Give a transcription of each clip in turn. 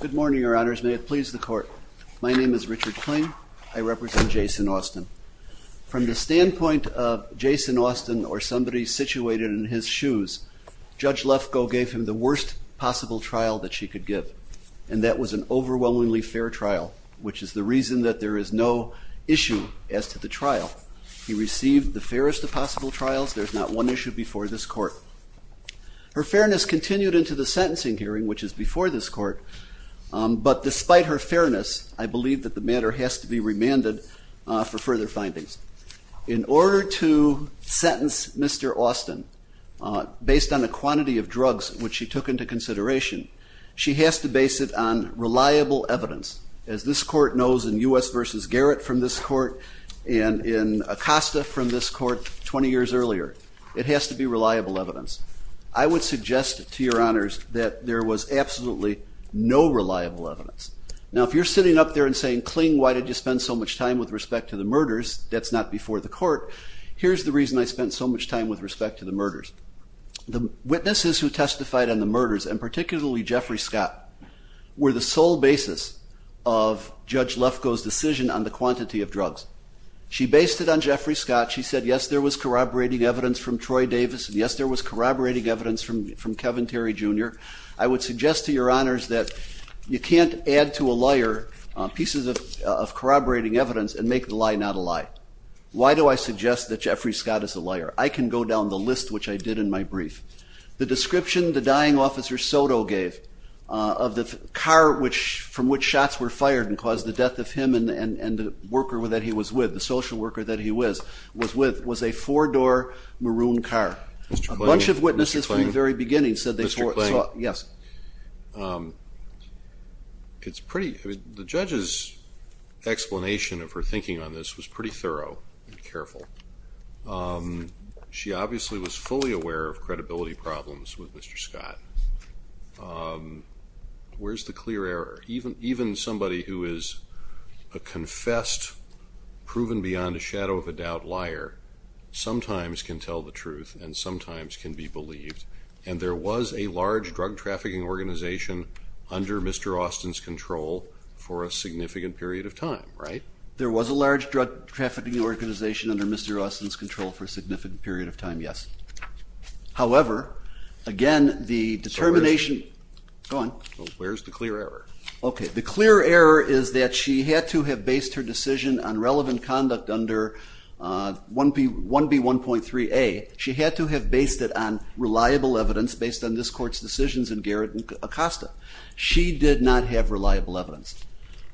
Good morning, your honors. May it please the court. My name is Richard Kling. I represent Jason Austin. From the standpoint of Jason Austin or somebody situated in his shoes, Judge Lefkoe gave him the worst possible trial that she could give, and that was an overwhelmingly fair trial, which is the reason that there is no issue as to the trial. He received the fairest of possible trials. There's not one issue before this court. Her fairness continued into the sentencing hearing, which is before this court, but despite her fairness, I believe that the matter has to be remanded for further findings. In order to sentence Mr. Austin, based on the quantity of drugs which she took into consideration, she has to base it on reliable evidence. As this court knows in U.S. v. Garrett from this court and in Acosta from this court 20 years earlier, it has to be reliable evidence. I would suggest to your honors that there was absolutely no reliable evidence. Now if you're sitting up there and saying, Kling, why did you spend so much time with respect to the murders? That's not before the court. Here's the reason I spent so much time with respect to the murders. The witnesses who testified on the murders, and particularly Jeffrey Scott, were the sole basis of Judge Lefkoe's decision on the quantity of drugs. She based it on Jeffrey Scott. She said, yes, there was corroborating evidence from Troy Davis, and yes, there was corroborating evidence from Kevin Terry Jr. I would suggest to your honors that you can't add to a liar pieces of corroborating evidence and make the lie not a lie. Why do I suggest that Jeffrey Scott is a liar? I can go down the list which I did in my brief. The description the dying officer Soto gave of the car from which shots were fired and caused the death of him and the worker that he was with, the maroon car. Mr. Kling? A bunch of witnesses from the very beginning said they saw, yes. It's pretty, the judge's explanation of her thinking on this was pretty thorough and careful. She obviously was fully aware of credibility problems with Mr. Scott. Where's the clear error? Even somebody who is a confessed, proven beyond a shadow of a doubt liar, sometimes can tell the truth and sometimes can be believed, and there was a large drug trafficking organization under Mr. Austin's control for a significant period of time, right? There was a large drug trafficking organization under Mr. Austin's control for a significant period of time, yes. However, again, the determination, go on. Where's the clear error? Okay, the clear error is that she had to have based her conduct under 1B1.3a, she had to have based it on reliable evidence based on this court's decisions in Garrett and Acosta. She did not have reliable evidence.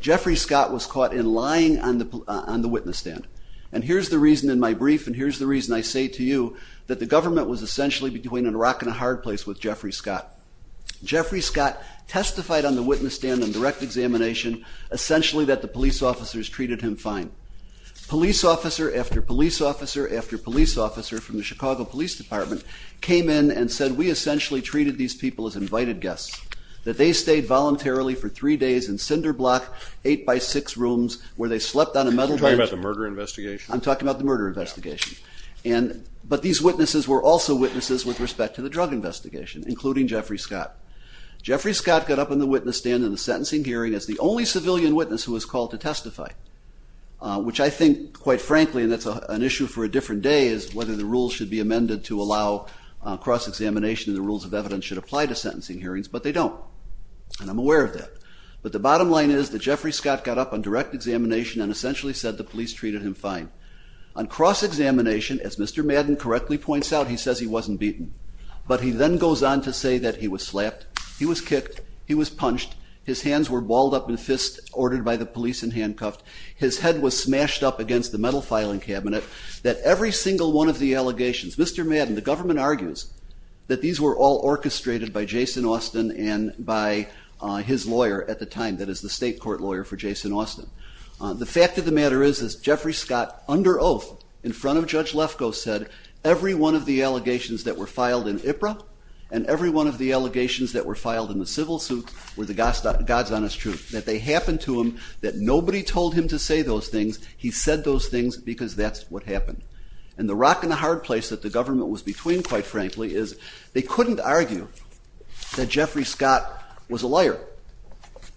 Jeffrey Scott was caught in lying on the witness stand, and here's the reason in my brief, and here's the reason I say to you, that the government was essentially between a rock and a hard place with Jeffrey Scott. Jeffrey Scott testified on the witness stand in direct examination, essentially that the police officer after police officer after police officer from the Chicago Police Department came in and said, we essentially treated these people as invited guests, that they stayed voluntarily for three days in cinder block, eight by six rooms, where they slept on a metal bench. Are you talking about the murder investigation? I'm talking about the murder investigation, and, but these witnesses were also witnesses with respect to the drug investigation, including Jeffrey Scott. Jeffrey Scott got up on the witness stand in the I think, quite frankly, and that's an issue for a different day, is whether the rules should be amended to allow cross-examination and the rules of evidence should apply to sentencing hearings, but they don't, and I'm aware of that. But the bottom line is that Jeffrey Scott got up on direct examination and essentially said the police treated him fine. On cross-examination, as Mr. Madden correctly points out, he says he wasn't beaten, but he then goes on to say that he was slapped, he was kicked, he was punched, his hands were balled up in smashed up against the metal filing cabinet, that every single one of the allegations, Mr. Madden, the government argues that these were all orchestrated by Jason Austin and by his lawyer at the time, that is the state court lawyer for Jason Austin. The fact of the matter is, is Jeffrey Scott, under oath, in front of Judge Lefkoe, said every one of the allegations that were filed in IPRA and every one of the allegations that were filed in the civil suit were the God's honest truth, that they happened to him, that nobody told him to say those things, he said those things because that's what happened. And the rock and the hard place that the government was between, quite frankly, is they couldn't argue that Jeffrey Scott was a liar,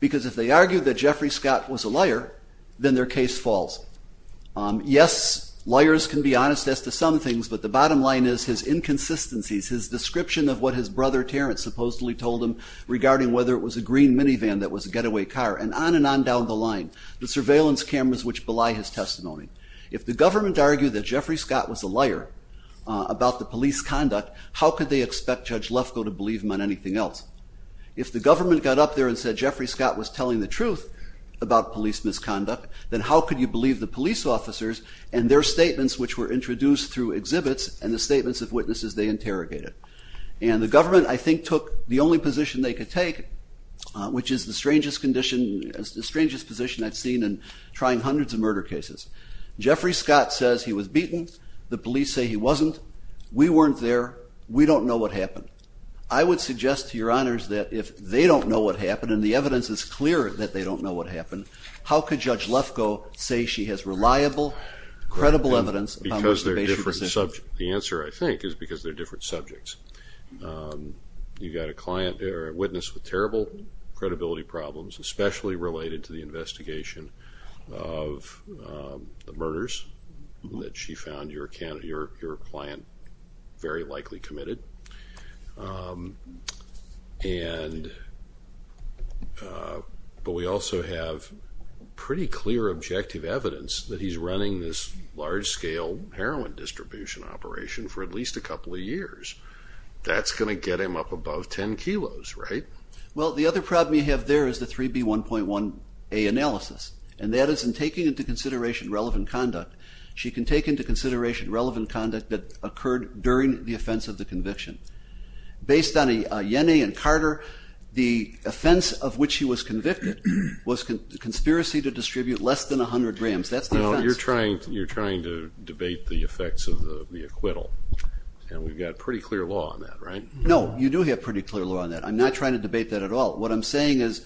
because if they argued that Jeffrey Scott was a liar, then their case falls. Yes, liars can be honest as to some things, but the bottom line is his inconsistencies, his description of what his brother Terrence supposedly told him regarding whether it was a green minivan that was a getaway car, and on and on down the line, the surveillance cameras which belie his testimony. If the government argued that Jeffrey Scott was a liar about the police conduct, how could they expect Judge Lefkoe to believe him on anything else? If the government got up there and said Jeffrey Scott was telling the truth about police misconduct, then how could you believe the police officers and their statements which were introduced through exhibits and the statements of witnesses they interrogated? And the government, I think, took the only position they could take, which is the strangest condition, the of murder cases. Jeffrey Scott says he was beaten, the police say he wasn't, we weren't there, we don't know what happened. I would suggest to your honors that if they don't know what happened and the evidence is clear that they don't know what happened, how could Judge Lefkoe say she has reliable, credible evidence? Because they're different subjects. The answer, I think, is because they're different subjects. You've got a client there, a witness with terrible credibility problems, especially related to the investigation of the murders that she found your client very likely committed. But we also have pretty clear objective evidence that he's running this large-scale heroin distribution operation for at least a couple of years. That's going to get him up above 10 kilos, right? Well, the other problem you have there is the 3B1.1A analysis, and that is in taking into consideration relevant conduct. She can take into consideration relevant conduct that occurred during the offense of the conviction. Based on a Yenny and Carter, the offense of which he was convicted was conspiracy to distribute less than a hundred grams. That's the offense. Now, you're trying to debate the effects of the acquittal, and we've got pretty clear law on that, right? No, you do have pretty clear law on that. I'm not trying to debate that at all. What I'm saying is,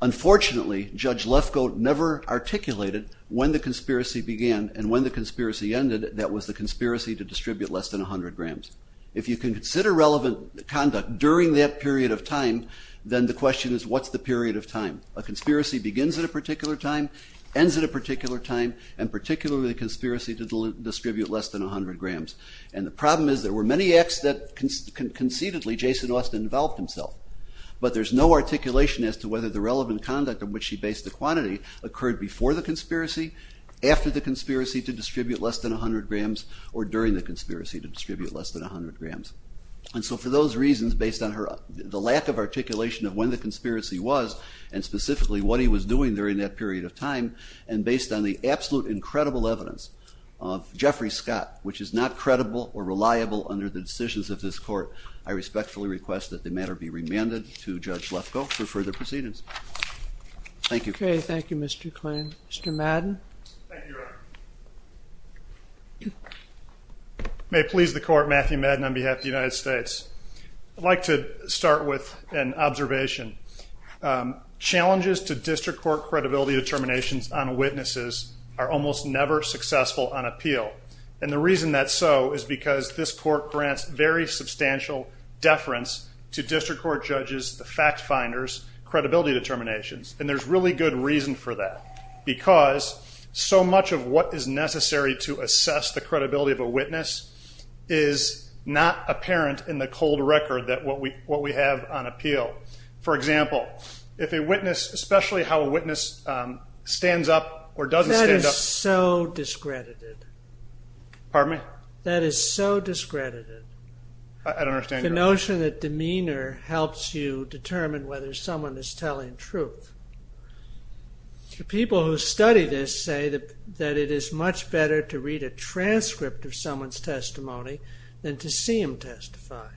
unfortunately, Judge Lefkoe never articulated when the conspiracy began and when the conspiracy ended that was the conspiracy to distribute less than a hundred grams. If you can consider relevant conduct during that period of time, then the question is, what's the period of time? A conspiracy begins at a particular time, ends at a particular time, and particularly the conspiracy to distribute less than a hundred grams. And the problem is there were many acts that concededly Jason Austin developed himself, but there's no articulation as to whether the relevant conduct in which she based the quantity occurred before the conspiracy, after the conspiracy to distribute less than a hundred grams, or during the conspiracy to distribute less than a hundred grams. And so for those reasons, based on the lack of articulation of when the conspiracy was, and specifically what he was doing during that period of time, and based on the absolute incredible evidence of reliability under the decisions of this court, I respectfully request that the matter be remanded to Judge Lefkoe for further proceedings. Thank you. Okay, thank you, Mr. Klein. Mr. Madden? May it please the court, Matthew Madden on behalf of the United States. I'd like to start with an observation. Challenges to district court credibility determinations on witnesses are almost never successful on appeal. And the reason that's so is because this court grants very substantial deference to district court judges, the fact-finders, credibility determinations. And there's really good reason for that, because so much of what is necessary to assess the credibility of a witness is not apparent in the cold record that what we have on appeal. For example, if a witness, especially how a discredited. Pardon me? That is so discredited. I don't understand. The notion that demeanor helps you determine whether someone is telling truth. The people who study this say that that it is much better to read a transcript of someone's testimony than to see him testify.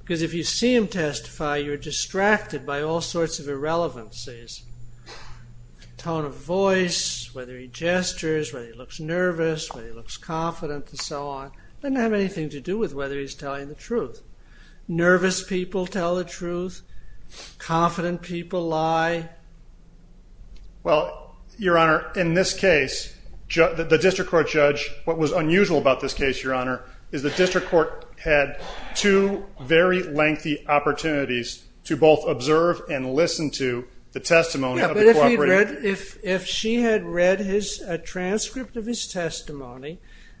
Because if you see him testify, you're distracted by all Well, your honor, in this case, the district court judge, what was unusual about this case, your honor, is the district court had two very lengthy opportunities to both observe and listen to the testimony of the cooperating witness. If she had read a transcript of his testimony,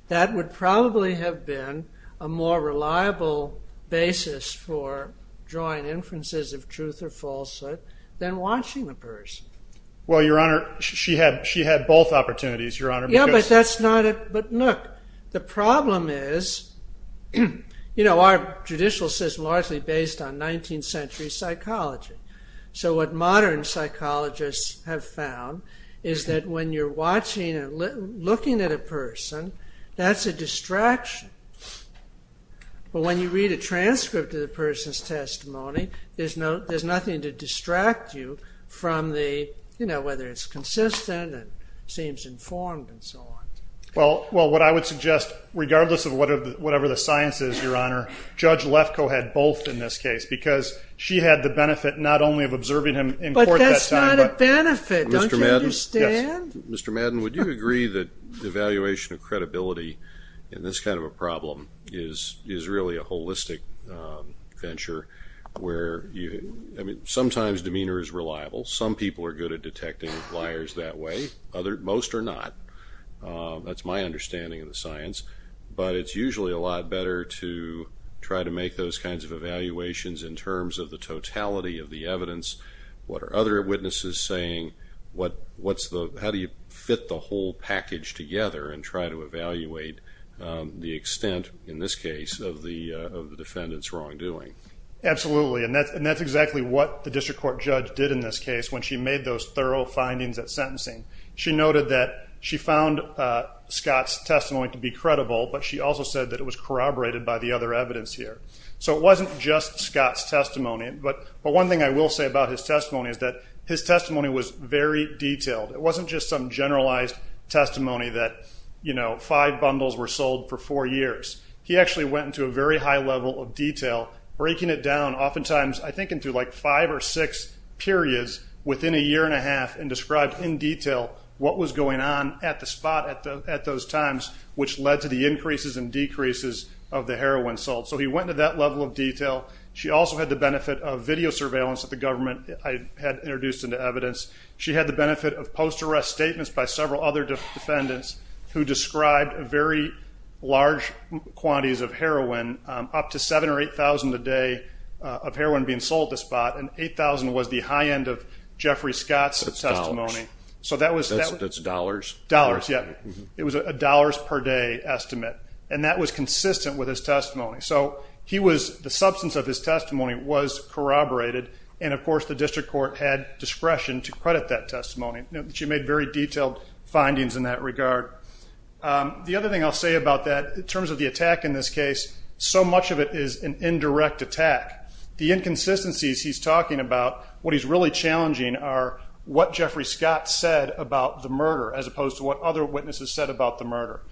that would probably have been a more reliable basis for drawing inferences of truth or falsehood than watching the person. Well, your honor, she had both opportunities, your honor. Yeah, but look, the problem is, you know, our judicial system is largely based on 19th century psychology. So what modern psychologists have found is that when you're watching and looking at a person, that's a distraction. But when you read a transcript of the person's testimony, there's nothing to distract you from the, you know, whether it's consistent and seems informed and so on. Well, what I would suggest, regardless of whatever the science is, your honor, Judge Lefkoe had both in this case because she had the benefit not only of observing him in court. But that's not a benefit, don't you understand? Mr. Madden, would you agree that evaluation of credibility in this kind of a problem is really a holistic venture where sometimes demeanor is reliable. Some people are good at detecting liars that way. Most are not. That's my understanding of the science. But it's usually a lot better to try to make those kinds of evaluations in terms of the totality of the evidence. What are other witnesses saying? How do you fit the whole package together and try to evaluate the extent, in this case, of the defendant's wrongdoing? Absolutely. And that's exactly what the district court judge did in this case when she made those thorough findings at sentencing. She noted that she found Scott's testimony to be credible, but she also said that it was corroborated by the other evidence here. So it wasn't just Scott's testimony. But one thing I will say about his testimony is that his testimony was very detailed. It wasn't just some generalized testimony that, you know, five bundles were sold for four years. He actually went into a very high level of detail, breaking it down oftentimes, I think, into like five or six periods within a year and a half and described in detail what was going on at the spot at those times, which led to the increases and decreases of the heroin salt. So he went into that level of detail. She also had the benefit of video surveillance that the government had introduced into evidence. She had the benefit of post-arrest statements by several other defendants who described very large quantities of heroin, up to 7,000 or 8,000 a day of heroin being sold at the spot, and 8,000 was the high end of Jeffrey Scott's testimony. That's dollars? Dollars, yeah. It was a dollars-per-day estimate. And that was consistent with his testimony. So he was the substance of his testimony was corroborated, and, of course, the district court had discretion to credit that testimony. She made very detailed findings in that regard. The other thing I'll say about that, in terms of the attack in this case, so much of it is an indirect attack. The inconsistencies he's talking about, what he's really challenging, are what Jeffrey Scott said about the murder as opposed to what other witnesses said about the murder.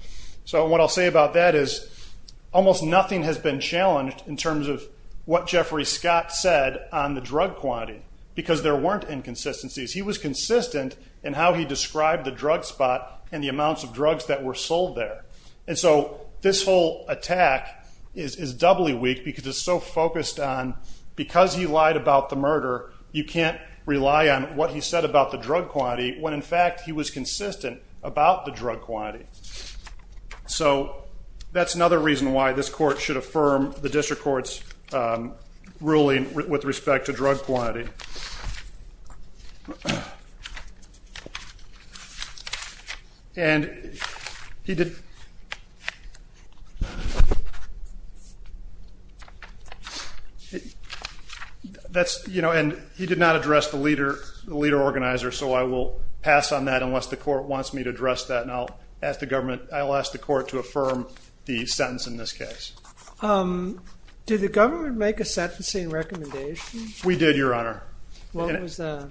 So what I'll say about that is almost nothing has been challenged in terms of what Jeffrey Scott said on the drug quantity because there weren't inconsistencies. He was consistent in how he described the drug spot and the amounts of drugs that were sold there. And so this whole attack is doubly weak because it's so focused on because he lied about the murder, you can't rely on what he said about the drug quantity when, in fact, he was consistent about the drug quantity. So that's another reason why this court should affirm the district court's ruling with respect to drug quantity. And he did not address the leader organizer, so I will pass on that unless the court wants me to address that, and I'll ask the court to affirm the sentence in this case. Did the government make a sentencing recommendation? We did, Your Honor. What was that?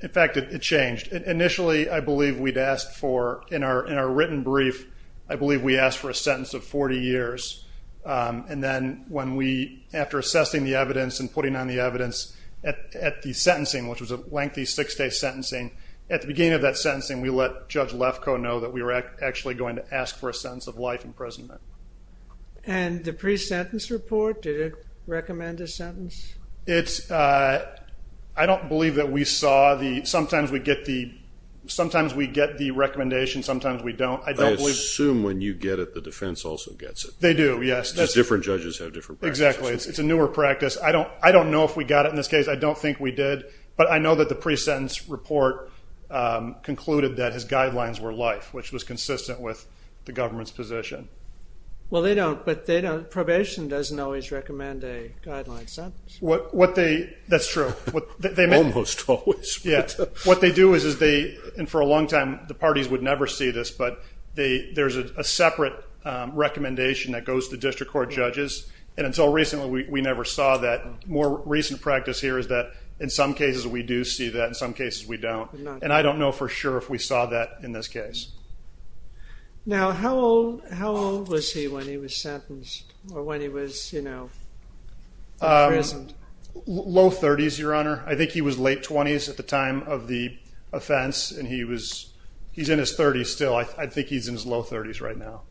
In fact, it changed. Initially, I believe we'd asked for, in our written brief, I believe we asked for a sentence of 40 years. And then when we, after assessing the evidence and putting on the evidence at the sentencing, which was a lengthy six-day sentencing, at the beginning of that sentencing, we let Judge Lefkoe know that we were actually going to ask for a sentence of life imprisonment. And the pre-sentence report, did it recommend a sentence? I don't believe that we saw the, sometimes we get the recommendation, sometimes we don't. I assume when you get it, the defense also gets it. They do, yes. Because different judges have different practices. Exactly. It's a newer practice. I don't know if we got it in this case. I don't think we did. But I know that the pre-sentence report concluded that his guidelines were life, which was consistent with the government's position. Well, they don't, but probation doesn't always recommend a guideline sentence. That's true. Almost always. What they do is, and for a long time the parties would never see this, but there's a separate recommendation that goes to district court judges, and until recently we never saw that. More recent practice here is that in some cases we do see that, in some cases we don't. And I don't know for sure if we saw that in this case. Now, how old was he when he was sentenced or when he was, you know, imprisoned? Low 30s, Your Honor. I think he was late 20s at the time of the offense, and he's in his 30s still. I think he's in his low 30s right now.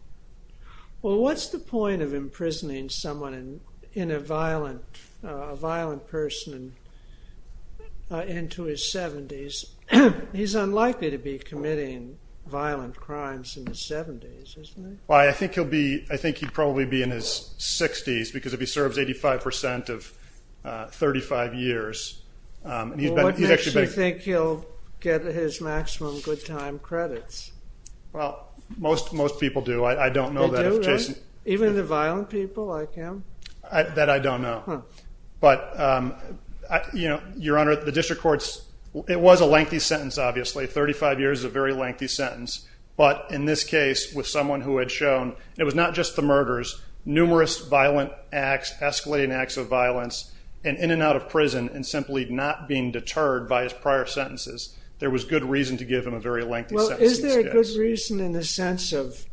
Well, what's the point of imprisoning someone in a violent person into his 70s? He's unlikely to be committing violent crimes in his 70s, isn't he? Well, I think he'll be, I think he'd probably be in his 60s, because if he serves 85% of 35 years, he's actually been. Well, what makes you think he'll get his maximum good time credits? Well, most people do. I don't know that. They do, right? Even the violent people like him? That I don't know. Huh. But, you know, Your Honor, the district courts, it was a lengthy sentence, obviously. Thirty-five years is a very lengthy sentence. But in this case, with someone who had shown it was not just the murders, numerous violent acts, escalating acts of violence, and in and out of prison, and simply not being deterred by his prior sentences, there was good reason to give him a very lengthy sentence. Well, is there a good reason in the sense of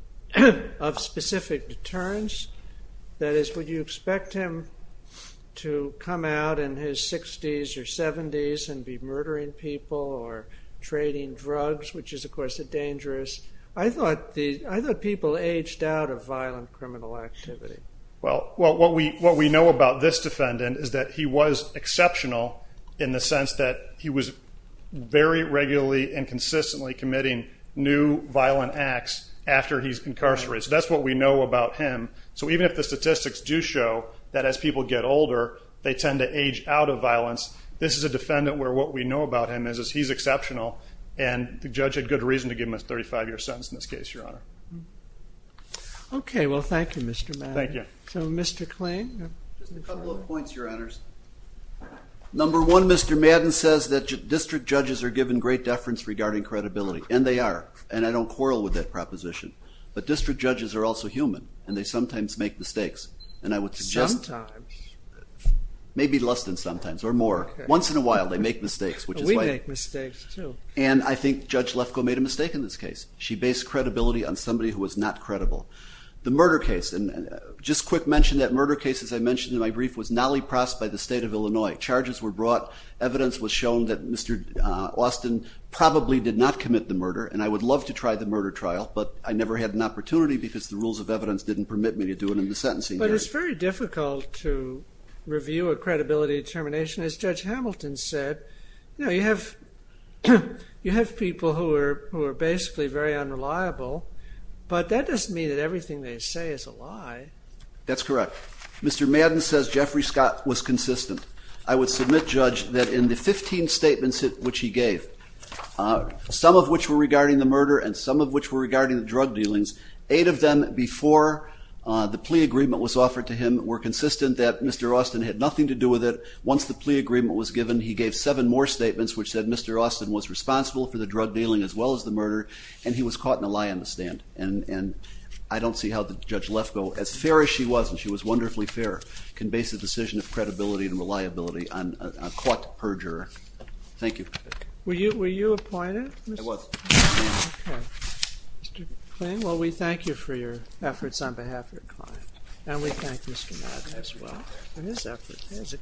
specific deterrence? That is, would you expect him to come out in his 60s or 70s and be murdering people or trading drugs, which is, of course, dangerous? I thought people aged out of violent criminal activity. Well, what we know about this defendant is that he was exceptional in the sense that he was very regularly and consistently committing new violent acts after he's incarcerated. So that's what we know about him. So even if the statistics do show that as people get older, they tend to age out of violence, this is a defendant where what we know about him is he's exceptional and the judge had good reason to give him a 35-year sentence in this case, Your Honor. Okay. Well, thank you, Mr. Madden. Thank you. So, Mr. Klain? Just a couple of points, Your Honors. Number one, Mr. Madden says that district judges are given great deference regarding credibility, and they are, and I don't quarrel with that proposition. But district judges are also human, and they sometimes make mistakes. Sometimes? Maybe less than sometimes, or more. Once in a while they make mistakes. We make mistakes, too. And I think Judge Lefkoe made a mistake in this case. She based credibility on somebody who was not credible. The murder case, and just quick mention that murder case, as I mentioned in my brief, was Nally Pross by the State of Illinois. Evidence was shown that Mr. Austin probably did not commit the murder, and I would love to try the murder trial, but I never had an opportunity because the rules of evidence didn't permit me to do it in the sentencing hearing. But it's very difficult to review a credibility determination. As Judge Hamilton said, you know, you have people who are basically very unreliable, but that doesn't mean that everything they say is a lie. That's correct. Mr. Madden says Jeffrey Scott was consistent. I would submit, Judge, that in the 15 statements which he gave, some of which were regarding the murder and some of which were regarding the drug dealings, eight of them before the plea agreement was offered to him were consistent that Mr. Austin had nothing to do with it. Once the plea agreement was given, he gave seven more statements which said Mr. Austin was responsible for the drug dealing as well as the murder, and he was caught in a lie on the stand. And I don't see how Judge Lefkoe, as fair as she was, and she was wonderfully fair, can base a decision of credibility and reliability on a caught perjurer. Thank you. Were you appointed? I was. Okay. Mr. McLean, well, we thank you for your efforts on behalf of your client, and we thank Mr. Madden as well for his efforts.